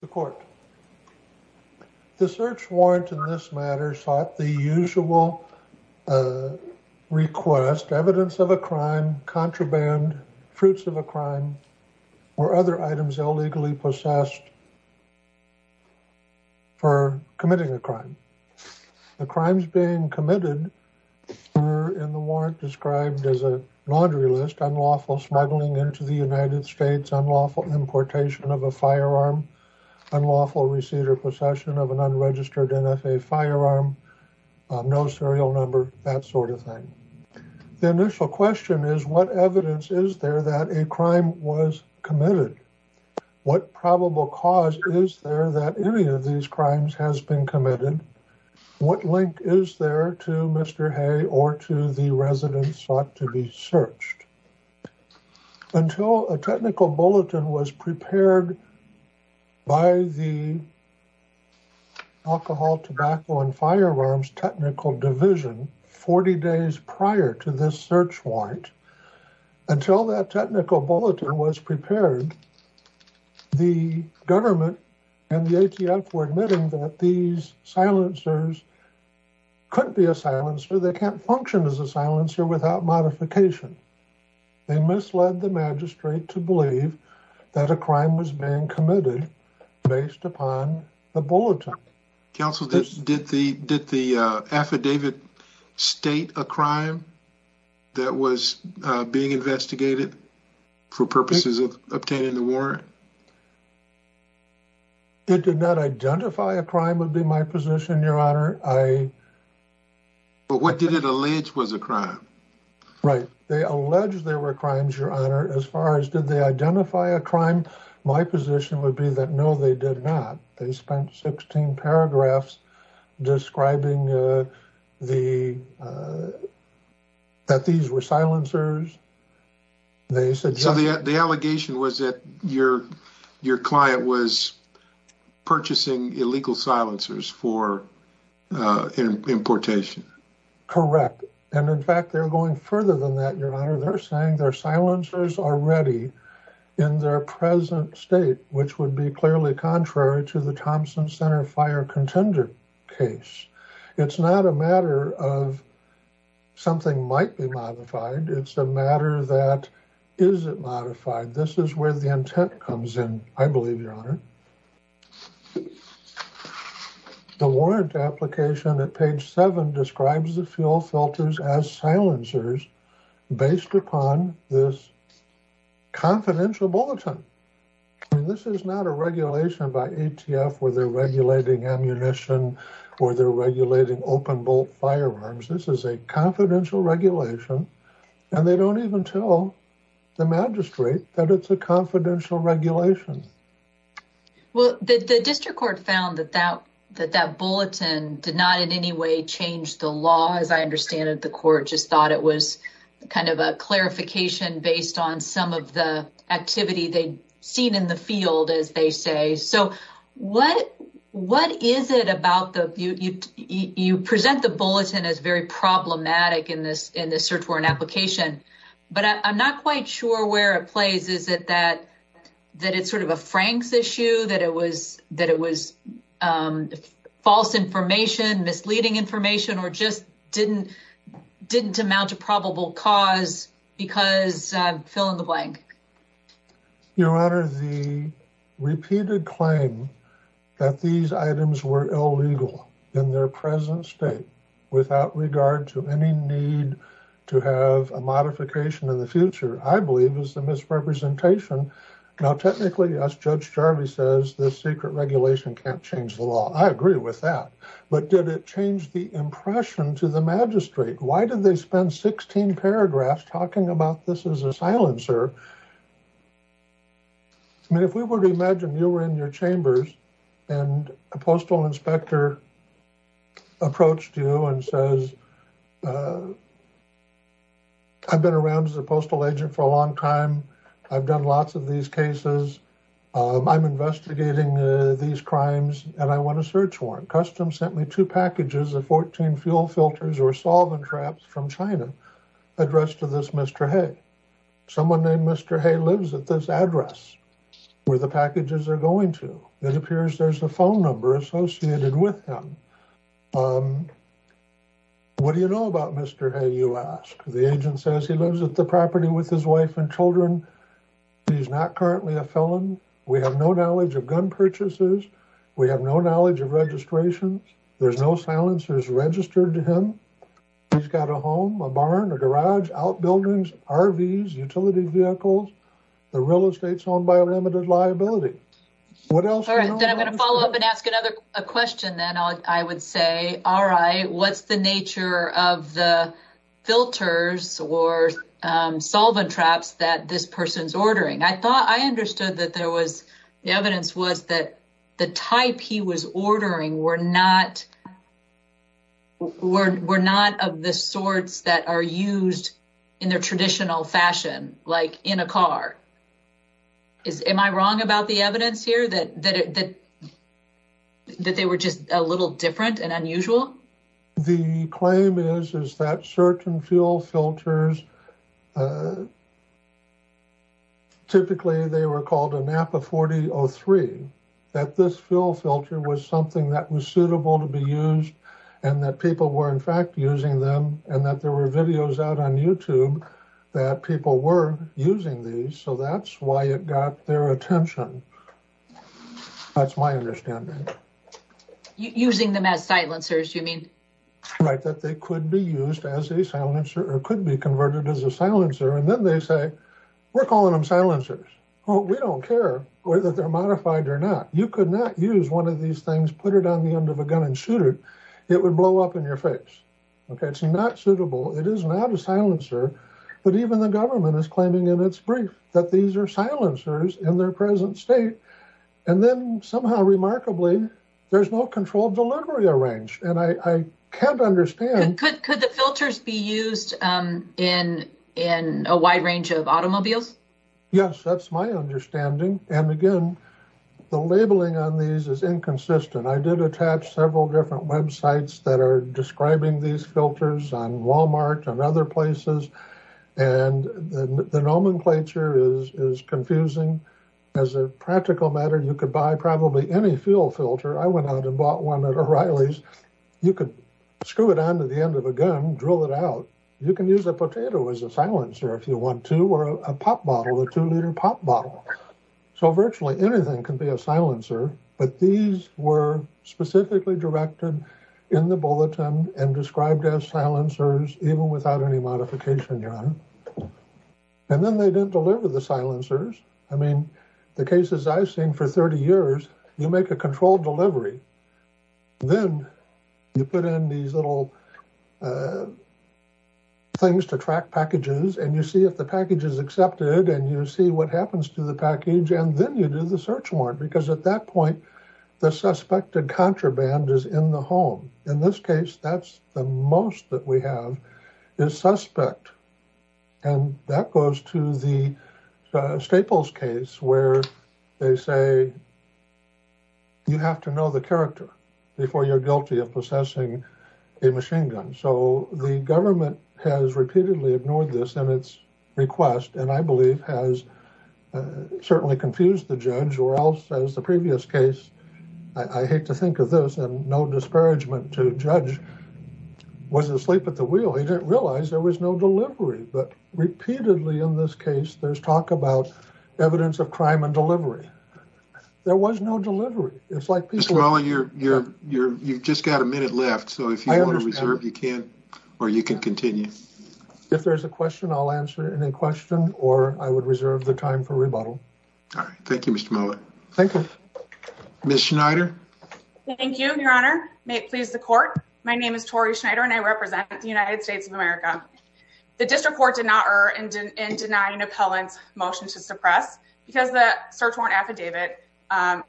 The court. The search warrant in this matter sought the usual request evidence of a crime, contraband, fruits of a crime, or other items illegally possessed for committing a crime. The crimes being committed were in the warrant described as a laundry list, unlawful smuggling into the United States, unlawful importation of a firearm, unlawful receipt or possession of an unregistered NFA firearm, no serial number, that sort of thing. The initial question is what evidence is there that a crime was committed? What probable cause is there that any of these crimes has been committed? What link is there to Mr. Hay or to the residents sought to be searched? Until a technical bulletin was prepared by the alcohol, tobacco, and firearms technical division 40 days prior to this search warrant, until that technical bulletin was prepared, the government and the ATF were admitting that these silencers couldn't be a silencer. They can't function as a silencer without modification. They misled the magistrate to believe that a crime was being committed based upon the bulletin. Counsel, did the affidavit state a crime that was being in the warrant? It did not identify a crime would be my position, your honor. But what did it allege was a crime? Right. They allege there were crimes, your honor. As far as did they identify a crime, my position would be that no, they did not. They spent 16 paragraphs describing that these were silencers. So the allegation was that your client was purchasing illegal silencers for importation? Correct. And in fact, they're going further than that, your honor. They're saying their silencers are ready in their present state, which would be clearly contrary to the Thompson Center fire contender case. It's not a matter of something might be modified. It's a matter that is it modified? This is where the intent comes in, I believe, your honor. The warrant application at page seven describes the fuel filters as silencers based upon this confidential bulletin. And this is not a regulation by ATF where they're regulating ammunition or they're regulating open bolt firearms. This is a confidential regulation and they don't even tell the magistrate that it's a confidential regulation. Well, the district court found that that that that bulletin did not in any way change the as I understand it, the court just thought it was kind of a clarification based on some of the activity they'd seen in the field, as they say. So what what is it about the you present the bulletin as very problematic in this in this search warrant application? But I'm not quite sure where it plays. Is it that that it's sort of a Frank's issue that it was that it was false information, misleading information, or just didn't didn't amount to probable cause because fill in the blank. Your honor, the repeated claim that these items were illegal in their present state without regard to any need to have a modification in the future, I believe, is the misrepresentation. Now, technically, as Judge Jarvi says, this secret regulation can't change the law. I agree with that. But did it change the impression to the magistrate? Why did they spend 16 paragraphs talking about this as a silencer? I mean, if we were to imagine you were in your chambers and a postal inspector approached you and says, I've been around as a postal agent for a long time. I've done lots of these cases. I'm investigating these crimes and I want a search warrant. Custom sent me two packages of 14 fuel filters or solvent traps from China addressed to this Mr. Hay. Someone named Mr. Hay lives at this address where the packages are going to. It appears there's a phone number associated with him. What do you know about Mr. Hay, you ask? The agent says he lives at property with his wife and children. He's not currently a felon. We have no knowledge of gun purchases. We have no knowledge of registration. There's no silencers registered to him. He's got a home, a barn, a garage, outbuildings, RVs, utility vehicles. The real estate's owned by a limited liability. What else? All right. Then I'm going to follow up and ask another question then. I would say, all right, what's the nature of the filters or solvent traps that this person's ordering? I thought I understood that there was, the evidence was that the type he was ordering were not of the sorts that are used in their traditional fashion, like in a car. Is, am I wrong about the evidence here that they were just a little different and unusual? The claim is, is that certain fuel filters, typically they were called a Napa 4003, that this fuel filter was something that was suitable to be used and that people were in fact using them and that there were videos out on YouTube that people were using these. So that's why it got their attention. That's my understanding. Using them as silencers, you mean? Right. That they could be used as a silencer or could be converted as a silencer. And then they say, we're calling them silencers. Well, we don't care whether they're modified or not. You could not use one of these things, put it on the end of a gun and shoot it. It would blow up in your face. It's not suitable. It is not a silencer. But even the government is claiming in its brief that these are silencers in their present state. And then somehow remarkably, there's no controlled delivery arranged. And I can't understand. Could the filters be used in a wide range of automobiles? Yes, that's my understanding. And again, the labeling on these is inconsistent. I did attach several different websites that are describing these filters on Walmart and other places. And the nomenclature is confusing. As a practical matter, you could buy probably any fuel filter. I went out and bought one at O'Reilly's. You could screw it on to the end of a gun, drill it out. You can use a potato as a silencer if you want to, or a pop bottle, a two liter pop bottle. So virtually anything can be a silencer. But these were specifically directed in the bulletin and described as silencers, even without any modification. And then they didn't deliver the silencers. I mean, the cases I've seen for 30 years, you make a controlled delivery. Then you put in these little things to track packages. And you see if the package is accepted. And you see what happens to the package. And then you do the search warrant. Because at that point, the suspected contraband is in the home. In this case, that's the most that we have is suspect. And that goes to the Staples case where they say, you have to know the character before you're guilty of possessing a machine gun. So the government has repeatedly ignored this in its request. And I believe has certainly confused the judge or else as the previous case. I hate to think of this and no disparagement to judge was asleep at the wheel. He didn't realize there was no delivery. But repeatedly in this case, there's talk about evidence of crime and delivery. There was no delivery. You've just got a minute left. So if you want to reserve, you can, or you can continue. If there's a question, I'll answer any question or I would reserve the time for rebuttal. All right. Thank you, Mr. Mueller. Thank you. Ms. Schneider. Thank you, Your Honor. May it please the court. My name is Tori Schneider and I represent the United States of America. The district court did not err in denying appellant's motion to suppress because the search warrant affidavit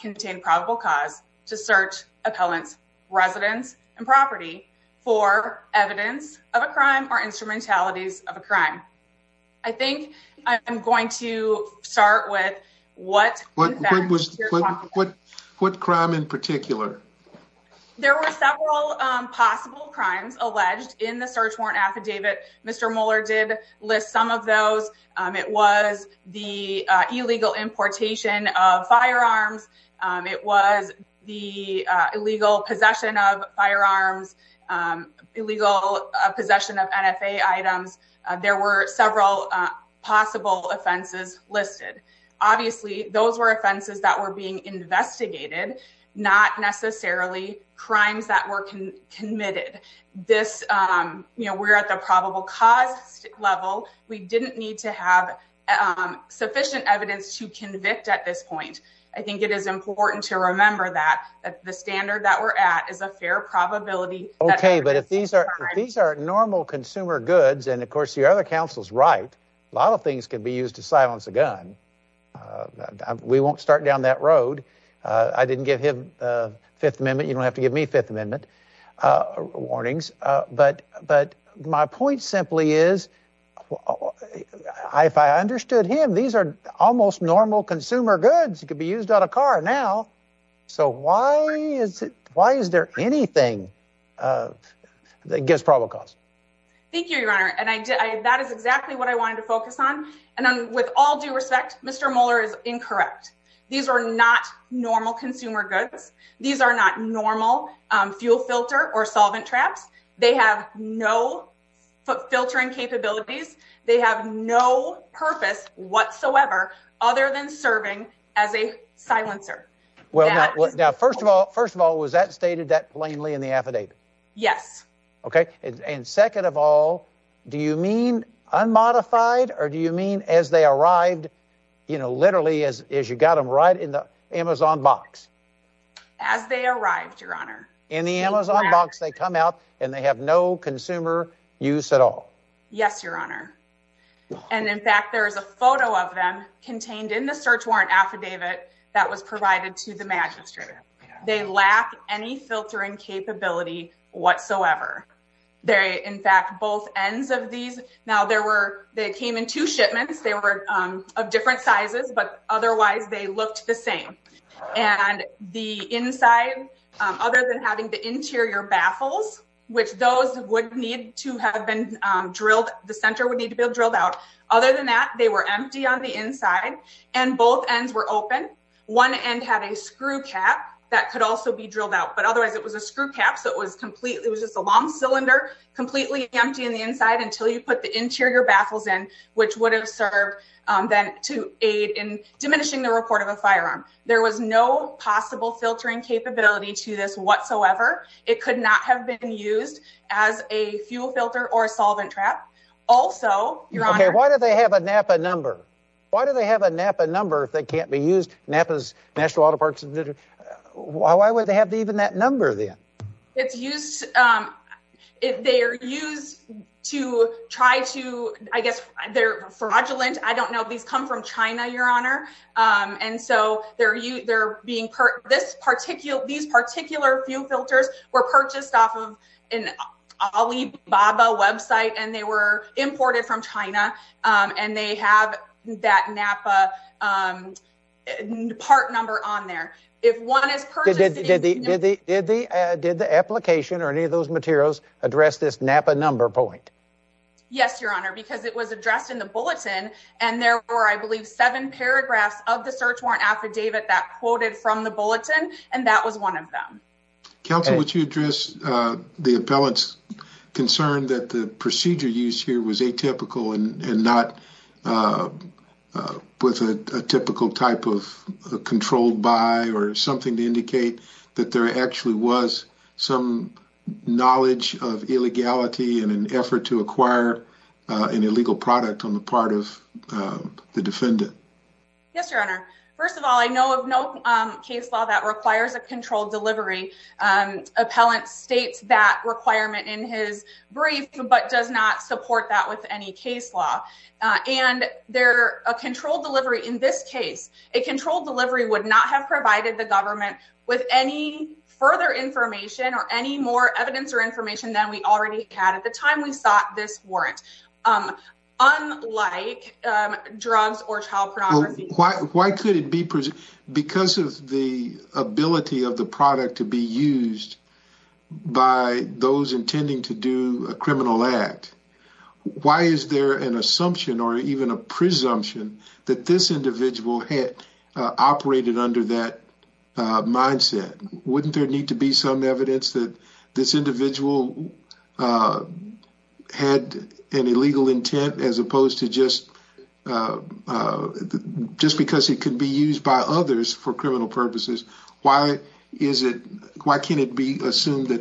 contained probable cause to search appellant's residence and property for evidence of a crime or instrumentalities of a crime. I think I'm going to start with what crime in particular. There were several possible crimes alleged in the search warrant affidavit. Mr. Mueller did list some of those. It was the illegal importation of firearms. It was the illegal possession of firearms, illegal possession of NFA items. There were several possible offenses listed. Obviously, those were offenses that were being investigated, not necessarily crimes that were committed. We're at the probable cause level. We didn't need to have sufficient evidence to convict at this point. I think it is important to remember that the standard that we're at is a fair probability. Okay. But if these are normal consumer goods and of course, the other counsel's right, a lot of things could be used to silence a gun. We won't start down that road. I didn't give Fifth Amendment. You don't have to give me Fifth Amendment warnings. But my point simply is, if I understood him, these are almost normal consumer goods. It could be used on a car now. So why is there anything that gives probable cause? Thank you, Your Honor. That is exactly what I wanted to focus on. With all due respect, Mr. Mueller is incorrect. These are not normal consumer goods. These are not normal fuel filter or solvent traps. They have no filtering capabilities. They have no purpose whatsoever other than serving as a silencer. Well, now, first of all, was that stated that plainly in the affidavit? Yes. Okay. And second of all, do you mean unmodified or do you mean as they arrived, you know, literally as you got them right in the Amazon box as they arrived, Your Honor, in the Amazon box, they come out and they have no consumer use at all. Yes, Your Honor. And in fact, there is a photo of them contained in the search warrant affidavit that was provided to the magistrate. They lack any filtering capability whatsoever. They in fact, both ends of these. Now there were they came in two shipments. They were of different sizes, but otherwise they looked the same. And the inside, other than having the interior baffles, which those would need to have been drilled, the center would need to be drilled out. Other than that, they were empty on the inside and both ends were open. One end had a screw cap that could also be drilled out, but otherwise it was a screw cap. So it was completely it was just a long cylinder completely empty in the inside until you put the interior baffles in, which would have served then to aid in diminishing the report of a firearm. There was no possible filtering capability to this whatsoever. It could not have been used as a fuel filter or a solvent trap. Also, Your Honor, why do they have a Napa number? Why do they have a Napa number if they can't be used? Napa's National Auto Parts. Why would they have even that number then? It's used if they are used to try to I guess they're fraudulent. I don't know. These come from China, Your Honor. And so they're they're being this particular these particular fuel filters were purchased off of an Alibaba website and they were imported from China and they have that Napa um part number on there. If one is purchased... Did the application or any of those materials address this Napa number point? Yes, Your Honor, because it was addressed in the bulletin and there were I believe seven paragraphs of the search warrant affidavit that quoted from the bulletin and that was one of them. Counsel, would you address the appellant's concern that the procedure used here was atypical and not with a typical type of controlled by or something to indicate that there actually was some knowledge of illegality in an effort to acquire an illegal product on the part of the defendant? Yes, Your Honor. First of all, I know of no case law that does not support that with any case law and they're a controlled delivery in this case. A controlled delivery would not have provided the government with any further information or any more evidence or information than we already had at the time we sought this warrant. Unlike drugs or child pornography. Why could it be because of the ability of the product to be used by those intending to do a criminal act? Why is there an assumption or even a presumption that this individual had operated under that mindset? Wouldn't there need to be some evidence that this individual had an illegal intent as opposed to just because it could be used by that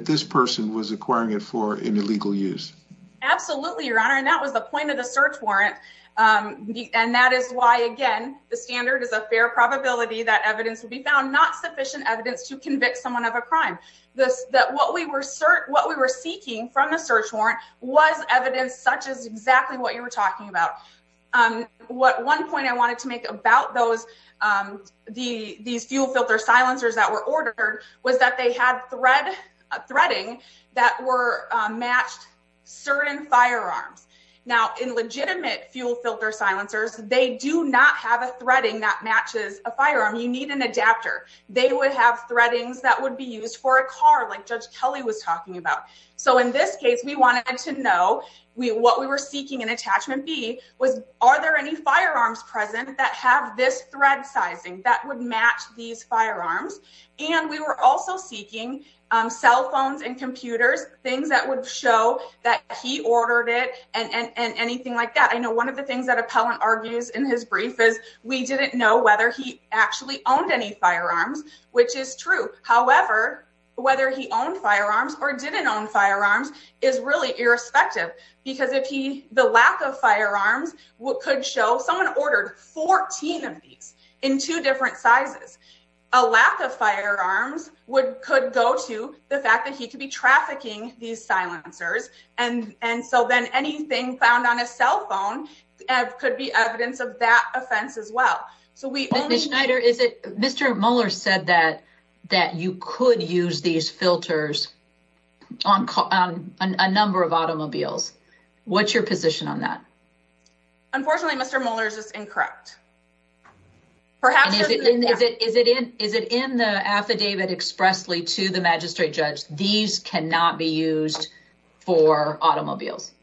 this person was acquiring it for an illegal use? Absolutely, Your Honor. And that was the point of the search warrant. And that is why, again, the standard is a fair probability that evidence will be found, not sufficient evidence to convict someone of a crime. This that what we were cert what we were seeking from the search warrant was evidence such as exactly what you were talking about. What one point I wanted to make about those the these fuel filter silencers that were ordered was that they had thread threading that were matched certain firearms. Now, in legitimate fuel filter silencers, they do not have a threading that matches a firearm. You need an adapter. They would have threadings that would be used for a car like Judge Kelly was talking about. So in this case, we wanted to know what we were seeking in attachment B was are there any firearms present that have this thread sizing that would match these firearms? And we were also seeking cell phones and computers, things that would show that he ordered it and anything like that. I know one of the things that appellant argues in his brief is we didn't know whether he actually owned any firearms, which is true. However, whether he could show someone ordered 14 of these in two different sizes, a lack of firearms would could go to the fact that he could be trafficking these silencers. And and so then anything found on a cell phone could be evidence of that offense as well. So we only Schneider is it Mr. Muller said that that you could use these filters on a number of automobiles. What's your position on that? Unfortunately, Mr. Muller's is incorrect. Perhaps is it is it is it is it in the affidavit expressly to the magistrate judge? These cannot be used for automobiles.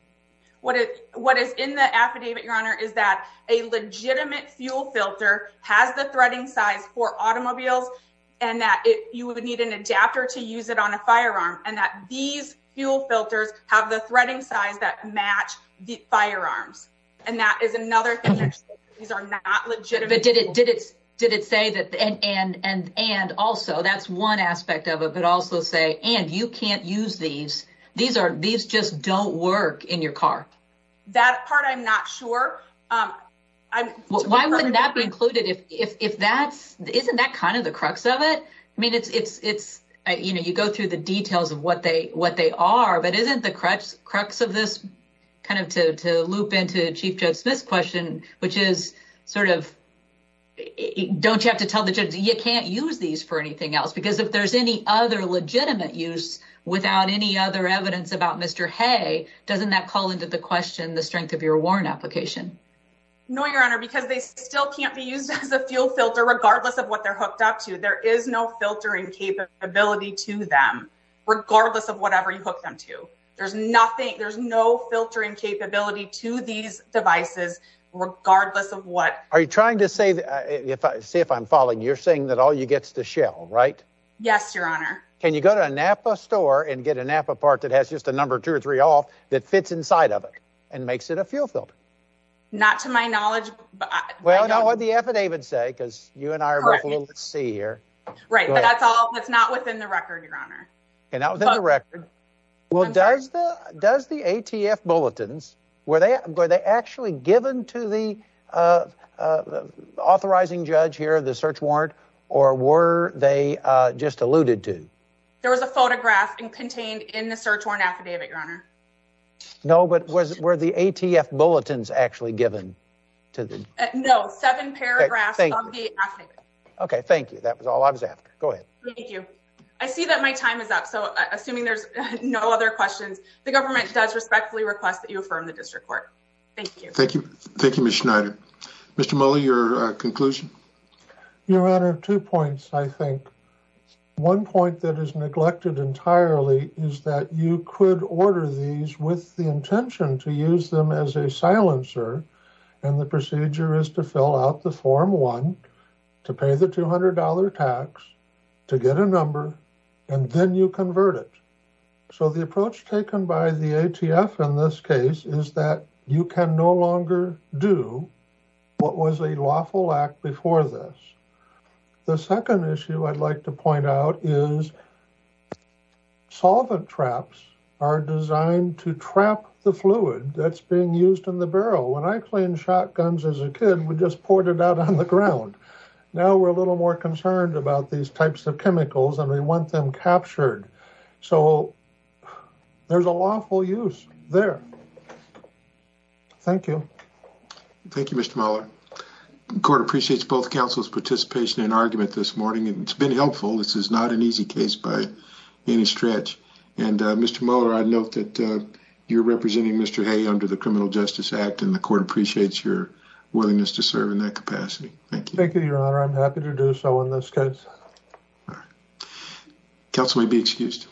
What is what is in the affidavit, Your Honor, is that a legitimate fuel filter has the threading size for automobiles, and that you would need an adapter to use it on a car. These are not legitimate. But did it did it did it say that? And and and and also that's one aspect of it, but also say and you can't use these. These are these just don't work in your car. That part, I'm not sure. I'm why wouldn't that be included if if that's isn't that kind of the crux of it? I mean, it's it's it's you know, you go through the details of what they what they are, but isn't the crux of this kind of to loop into Chief Judge Smith's question, which is sort of don't you have to tell the judge you can't use these for anything else? Because if there's any other legitimate use without any other evidence about Mr. Hay, doesn't that call into the question the strength of your warrant application? No, Your Honor, because they still can't be used as a fuel filter, regardless of what they're hooked up to. There is no filtering capability to them, regardless of whatever you hook them to. There's nothing. There's no filtering capability to these devices, regardless of what are you trying to say? If I see if I'm following, you're saying that all you gets the shell, right? Yes, Your Honor. Can you go to a Napa store and get a Napa part that has just a number two or three off that fits inside of it and makes it a fuel filter? Not to my knowledge. Well, I know what the affidavit say, because you and I will see here, right? But that's all that's not within the record, Your Honor. And I was in the record. Well, does the does the ATF bulletins where they were they actually given to the authorizing judge here, the search warrant, or were they just alluded to? There was a photograph and contained in the search warrant affidavit, Your Honor. No, but was where the ATF bulletins actually given to the no seven paragraphs of the affidavit? Okay, thank you. That was all I was after. Go ahead. Thank you. I see that my time is up. So assuming there's no other questions, the government does respectfully request that you affirm the district court. Thank you. Thank you. Thank you, Miss Schneider. Mr. Muller, your conclusion. Your Honor, two points. I think one point that is neglected entirely is that you could order these with the intention to use them as a silencer. And the procedure is to fill out the form one, to pay the $200 tax, to get a number, and then you convert it. So the approach taken by the ATF in this case is that you can no longer do what was a lawful act before this. The second issue I'd like to point out is solvent traps are designed to trap the fluid that's being used in the barrel. When I cleaned shotguns as a kid, we just poured it out on the ground. Now we're a little more concerned about these types of chemicals and we want them captured. So there's a lawful use there. Thank you. Thank you, Mr. Muller. The court appreciates both participation and argument this morning and it's been helpful. This is not an easy case by any stretch. And Mr. Muller, I'd note that you're representing Mr. Hay under the Criminal Justice Act and the court appreciates your willingness to serve in that capacity. Thank you. Thank you, Your Honor. I'm happy to do so in this case. All right. Counsel may be excused.